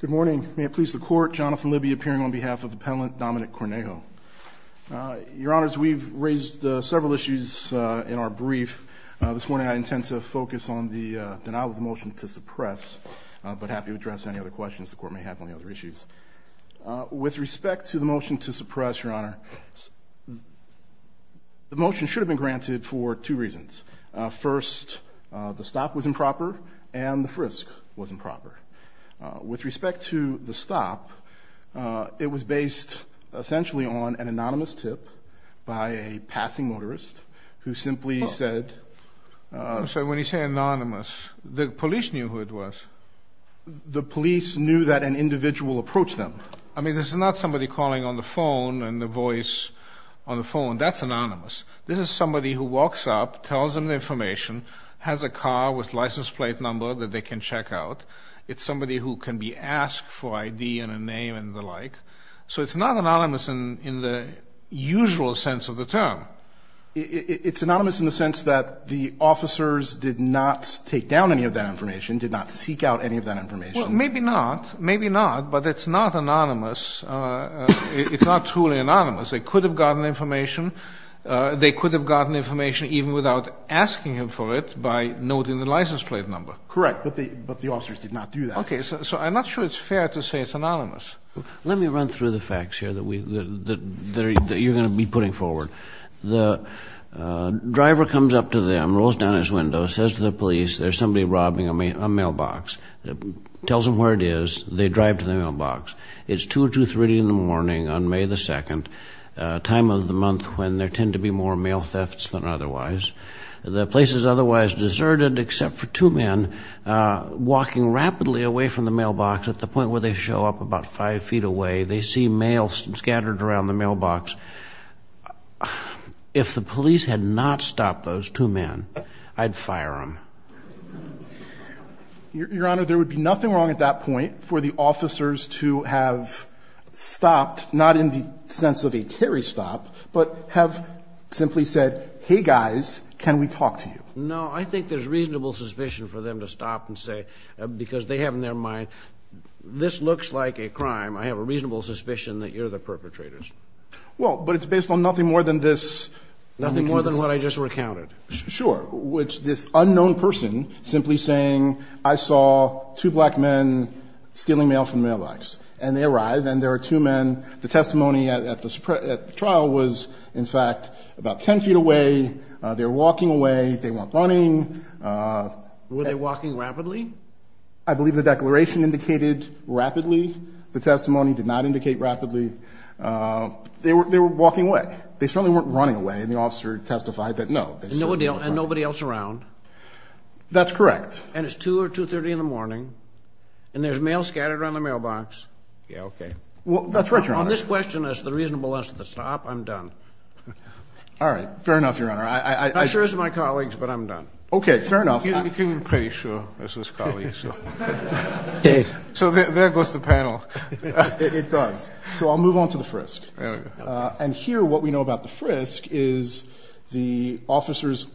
Good morning. May it please the court, Jonathan Libby appearing on behalf of the appellant Dominique Cornejo. Your honors, we've raised several issues in our brief. This morning I intend to focus on the denial of the motion to suppress, but happy to address any other questions the court may have on the other issues. With respect to the motion to suppress, your honor, the motion should have been granted for two With respect to the stop, it was based essentially on an anonymous tip by a passing motorist who simply said So when you say anonymous, the police knew who it was? The police knew that an individual approached them. I mean, this is not somebody calling on the phone and the voice on the phone. That's anonymous. This is somebody who walks up, tells them the information, has a car with license plate number that they can check out. It's somebody who can be asked for ID and a name and the like. So it's not anonymous in the usual sense of the term. It's anonymous in the sense that the officers did not take down any of that information, did not seek out any of that information. Well, maybe not, maybe not, but it's not anonymous. It's not truly anonymous. They could have gotten information. They could have gotten information even without asking him for it by noting the license plate number. Correct, but the officers did not do that. Okay, so I'm not sure it's fair to say it's anonymous. Let me run through the facts here that you're going to be putting forward. The driver comes up to them, rolls down his window, says to the police, there's somebody robbing a mailbox. Tells them where it is. They drive to the mailbox. It's 2 or 2.30 in the morning on May 2nd, time of the month when there tend to be more mail thefts than otherwise. The place is otherwise deserted except for two men walking rapidly away from the mailbox at the point where they show up about 5 feet away. They see mail scattered around the mailbox. If the police had not stopped those two men, I'd fire them. Your Honor, there would be nothing wrong at that point for the officers to have stopped, not in the sense of a Terry stop, but have simply said, hey, guys, can we talk to you? No, I think there's reasonable suspicion for them to stop and say, because they have in their mind, this looks like a crime. I have a reasonable suspicion that you're the perpetrators. Well, but it's based on nothing more than this. Nothing more than what I just recounted. Sure. Which this unknown person simply saying, I saw two black men stealing mail from the mailbox. And they arrive, and there are two men. The testimony at the trial was, in fact, about 10 feet away. They're walking away. They weren't running. Were they walking rapidly? I believe the declaration indicated rapidly. The testimony did not indicate rapidly. They were walking away. They certainly weren't running away. And the officer testified that, no. And nobody else around? That's correct. And it's 2 or 2.30 in the morning. And there's mail scattered around the mailbox. Yeah, okay. Well, that's right, Your Honor. On this question as the reasonable answer to stop, I'm done. All right. Fair enough, Your Honor. Not sure as to my colleagues, but I'm done. Okay. Fair enough. You can be pretty sure as his colleagues. So there goes the panel. It does. So I'll move on to the frisk. And here what we know about the frisk is the officers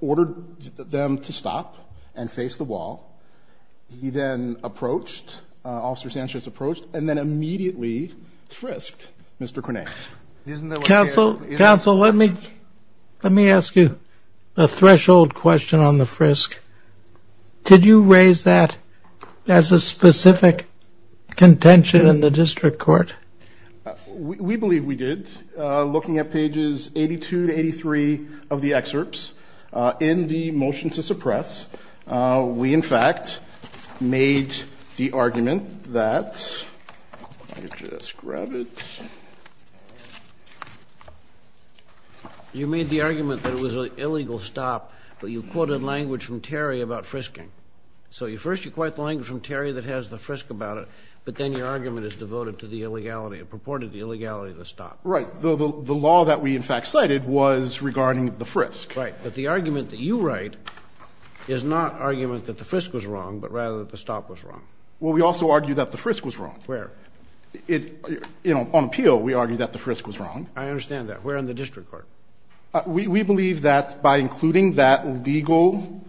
ordered them to stop and face the wall. He then approached, Officer Sanchez approached, and then immediately frisked Mr. Krenak. Counsel, let me ask you a threshold question on the frisk. Did you raise that as a specific contention in the district court? We believe we did. Looking at pages 82 to 83 of the excerpts in the motion to suppress, we, in fact, made the argument that you just grab it. You made the argument that it was an illegal stop, but you quoted language from Terry about frisking. So first you quote the language from Terry that has the frisk about it, but then your argument is devoted to the illegality, purported illegality of the stop. Right. The law that we, in fact, cited was regarding the frisk. Right. But the argument that you write is not argument that the frisk was wrong, but rather that the stop was wrong. Well, we also argue that the frisk was wrong. Where? It, you know, on appeal we argue that the frisk was wrong. I understand that. Where in the district court? We believe that by including that legal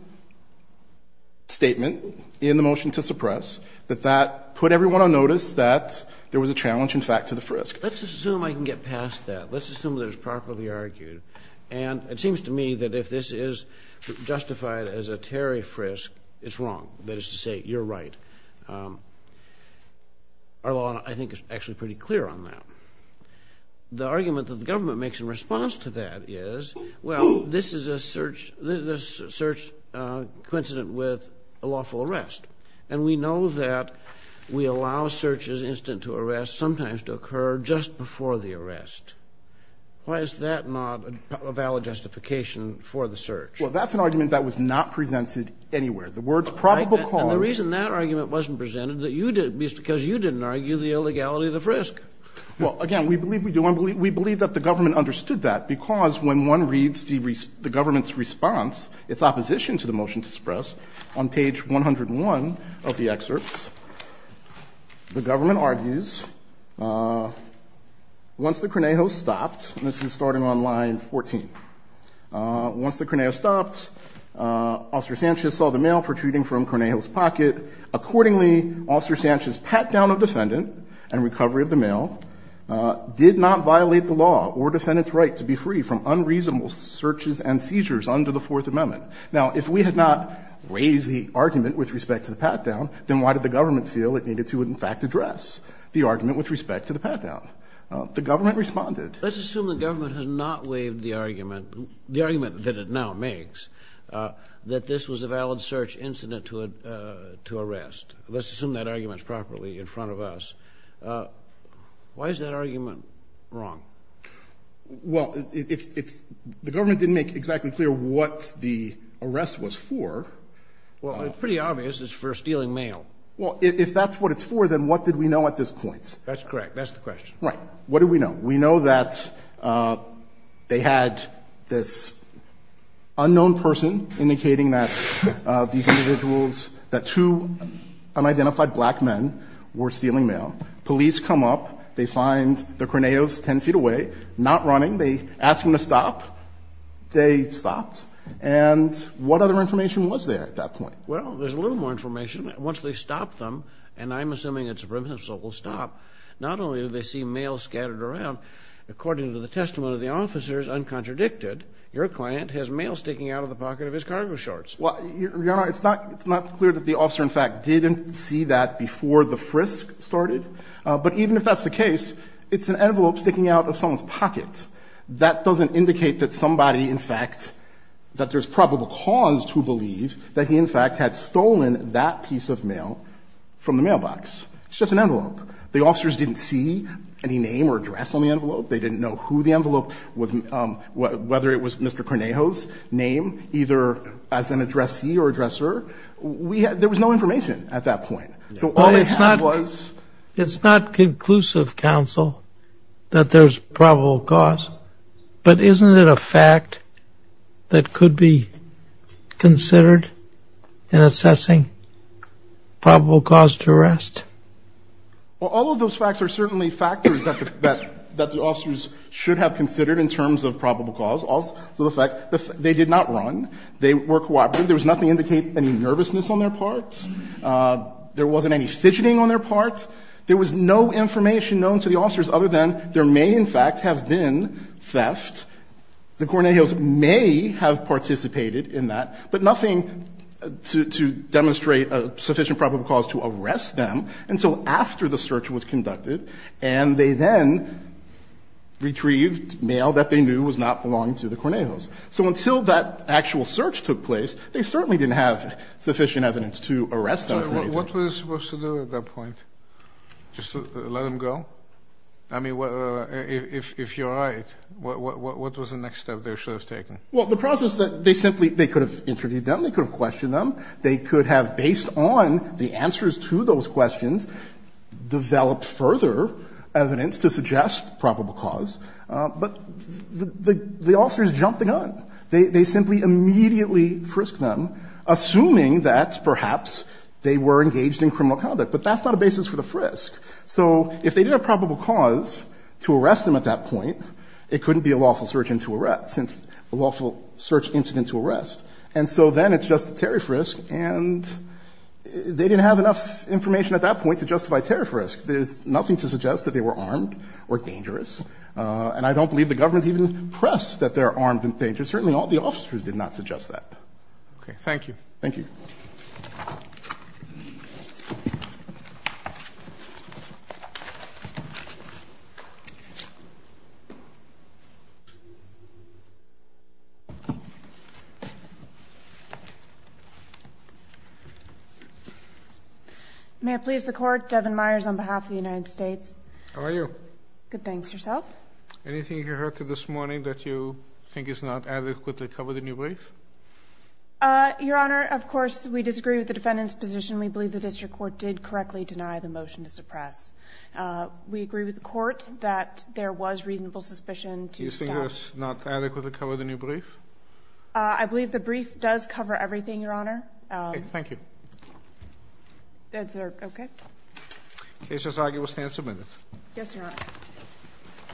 statement in the motion to suppress, that that put everyone on notice that there was a challenge, in fact, to the frisk. Let's assume I can get past that. Let's assume that it was properly argued. And it seems to me that if this is justified as a Terry frisk, it's wrong. That is to say, you're right. Our law, I think, is actually pretty clear on that. The argument that the government makes in response to that is, well, this is a search coincident with a lawful arrest. And we know that we allow searches instant to arrest sometimes to occur just before the arrest. Why is that not a valid justification for the search? Well, that's an argument that was not presented anywhere. The words probable cause. And the reason that argument wasn't presented is because you didn't argue the illegality of the frisk. Well, again, we believe we do. And we believe that the government understood that, because when one reads the government's response, its opposition to the motion to suppress, on page 101 of the excerpts, the government argues, once the Cornejos stopped, and this is starting on line 14, once the Cornejos stopped, Officer Sanchez saw the mail protruding from Cornejos' pocket. Accordingly, Officer Sanchez's pat-down of defendant and recovery of the mail did not violate the law or defendant's right to be free from unreasonable searches and seizures under the Fourth Amendment. Now, if we had not raised the argument with respect to the pat-down, then why did the government feel it needed to, in fact, address the argument with respect to the pat-down? The government responded. Let's assume the government has not waived the argument, the argument that it now makes, that this was a valid search incident to arrest. Let's assume that argument's properly in front of us. Why is that argument wrong? Well, it's the government didn't make exactly clear what the arrest was for. Well, it's pretty obvious. It's for stealing mail. Well, if that's what it's for, then what did we know at this point? That's correct. That's the question. Right. What do we know? We know that they had this unknown person indicating that these individuals, that two unidentified black men were stealing mail. Police come up. They find the Cornejos 10 feet away, not running. They ask them to stop. They stopped. And what other information was there at that point? Well, there's a little more information. Once they stop them, and I'm assuming it's a brimstone, so it will stop, not only do they see mail scattered around, according to the testimony of the officers uncontradicted, your client has mail sticking out of the pocket of his cargo shorts. Well, Your Honor, it's not clear that the officer, in fact, didn't see that before the frisk started. But even if that's the case, it's an envelope sticking out of someone's pocket. That doesn't indicate that somebody, in fact, that there's probable cause to believe that he, in fact, had stolen that piece of mail from the mailbox. It's just an envelope. The officers didn't see any name or address on the envelope. They didn't know who the envelope was, whether it was Mr. Cornejos' name, either as an addressee or addresser. There was no information at that point. So all they had was ---- It's not conclusive, counsel, that there's probable cause. But isn't it a fact that could be considered in assessing probable cause to arrest? Well, all of those facts are certainly factors that the officers should have considered in terms of probable cause. So the fact, they did not run. They were cooperative. There was nothing to indicate any nervousness on their part. There wasn't any fidgeting on their part. There was no information known to the officers other than there may, in fact, have been theft. The Cornejos may have participated in that, but nothing to demonstrate a sufficient probable cause to arrest them until after the search was conducted, and they then retrieved mail that they knew was not belonging to the Cornejos. So until that actual search took place, they certainly didn't have sufficient evidence to arrest them for anything. So what were they supposed to do at that point? Just let them go? I mean, if you're right, what was the next step they should have taken? Well, the process that they simply ---- they could have interviewed them. They could have questioned them. They could have, based on the answers to those questions, developed further evidence to suggest probable cause. But the officers jumped the gun. They simply immediately frisked them, assuming that perhaps they were engaged in criminal conduct. But that's not a basis for the frisk. So if they did have probable cause to arrest them at that point, it couldn't be a lawful search incident to arrest. And so then it's just a tariff risk, and they didn't have enough information at that point to justify tariff risk. There's nothing to suggest that they were armed or dangerous. And I don't believe the government's even pressed that they're armed and dangerous. Certainly all the officers did not suggest that. Roberts. Okay. Thank you. Thank you. May I please the Court? Devin Myers on behalf of the United States. How are you? Good. Good. Thanks. Yourself? Anything you heard this morning that you think is not adequately covered in your brief? Your Honor, of course, we disagree with the defendant's position. We believe the district court did correctly deny the motion to suppress. We agree with the court that there was reasonable suspicion to the staff. Do you think that's not adequately covered in your brief? I believe the brief does cover everything, Your Honor. Okay. Thank you. Is there? Okay. The case is arguably stand submitted. Yes, Your Honor.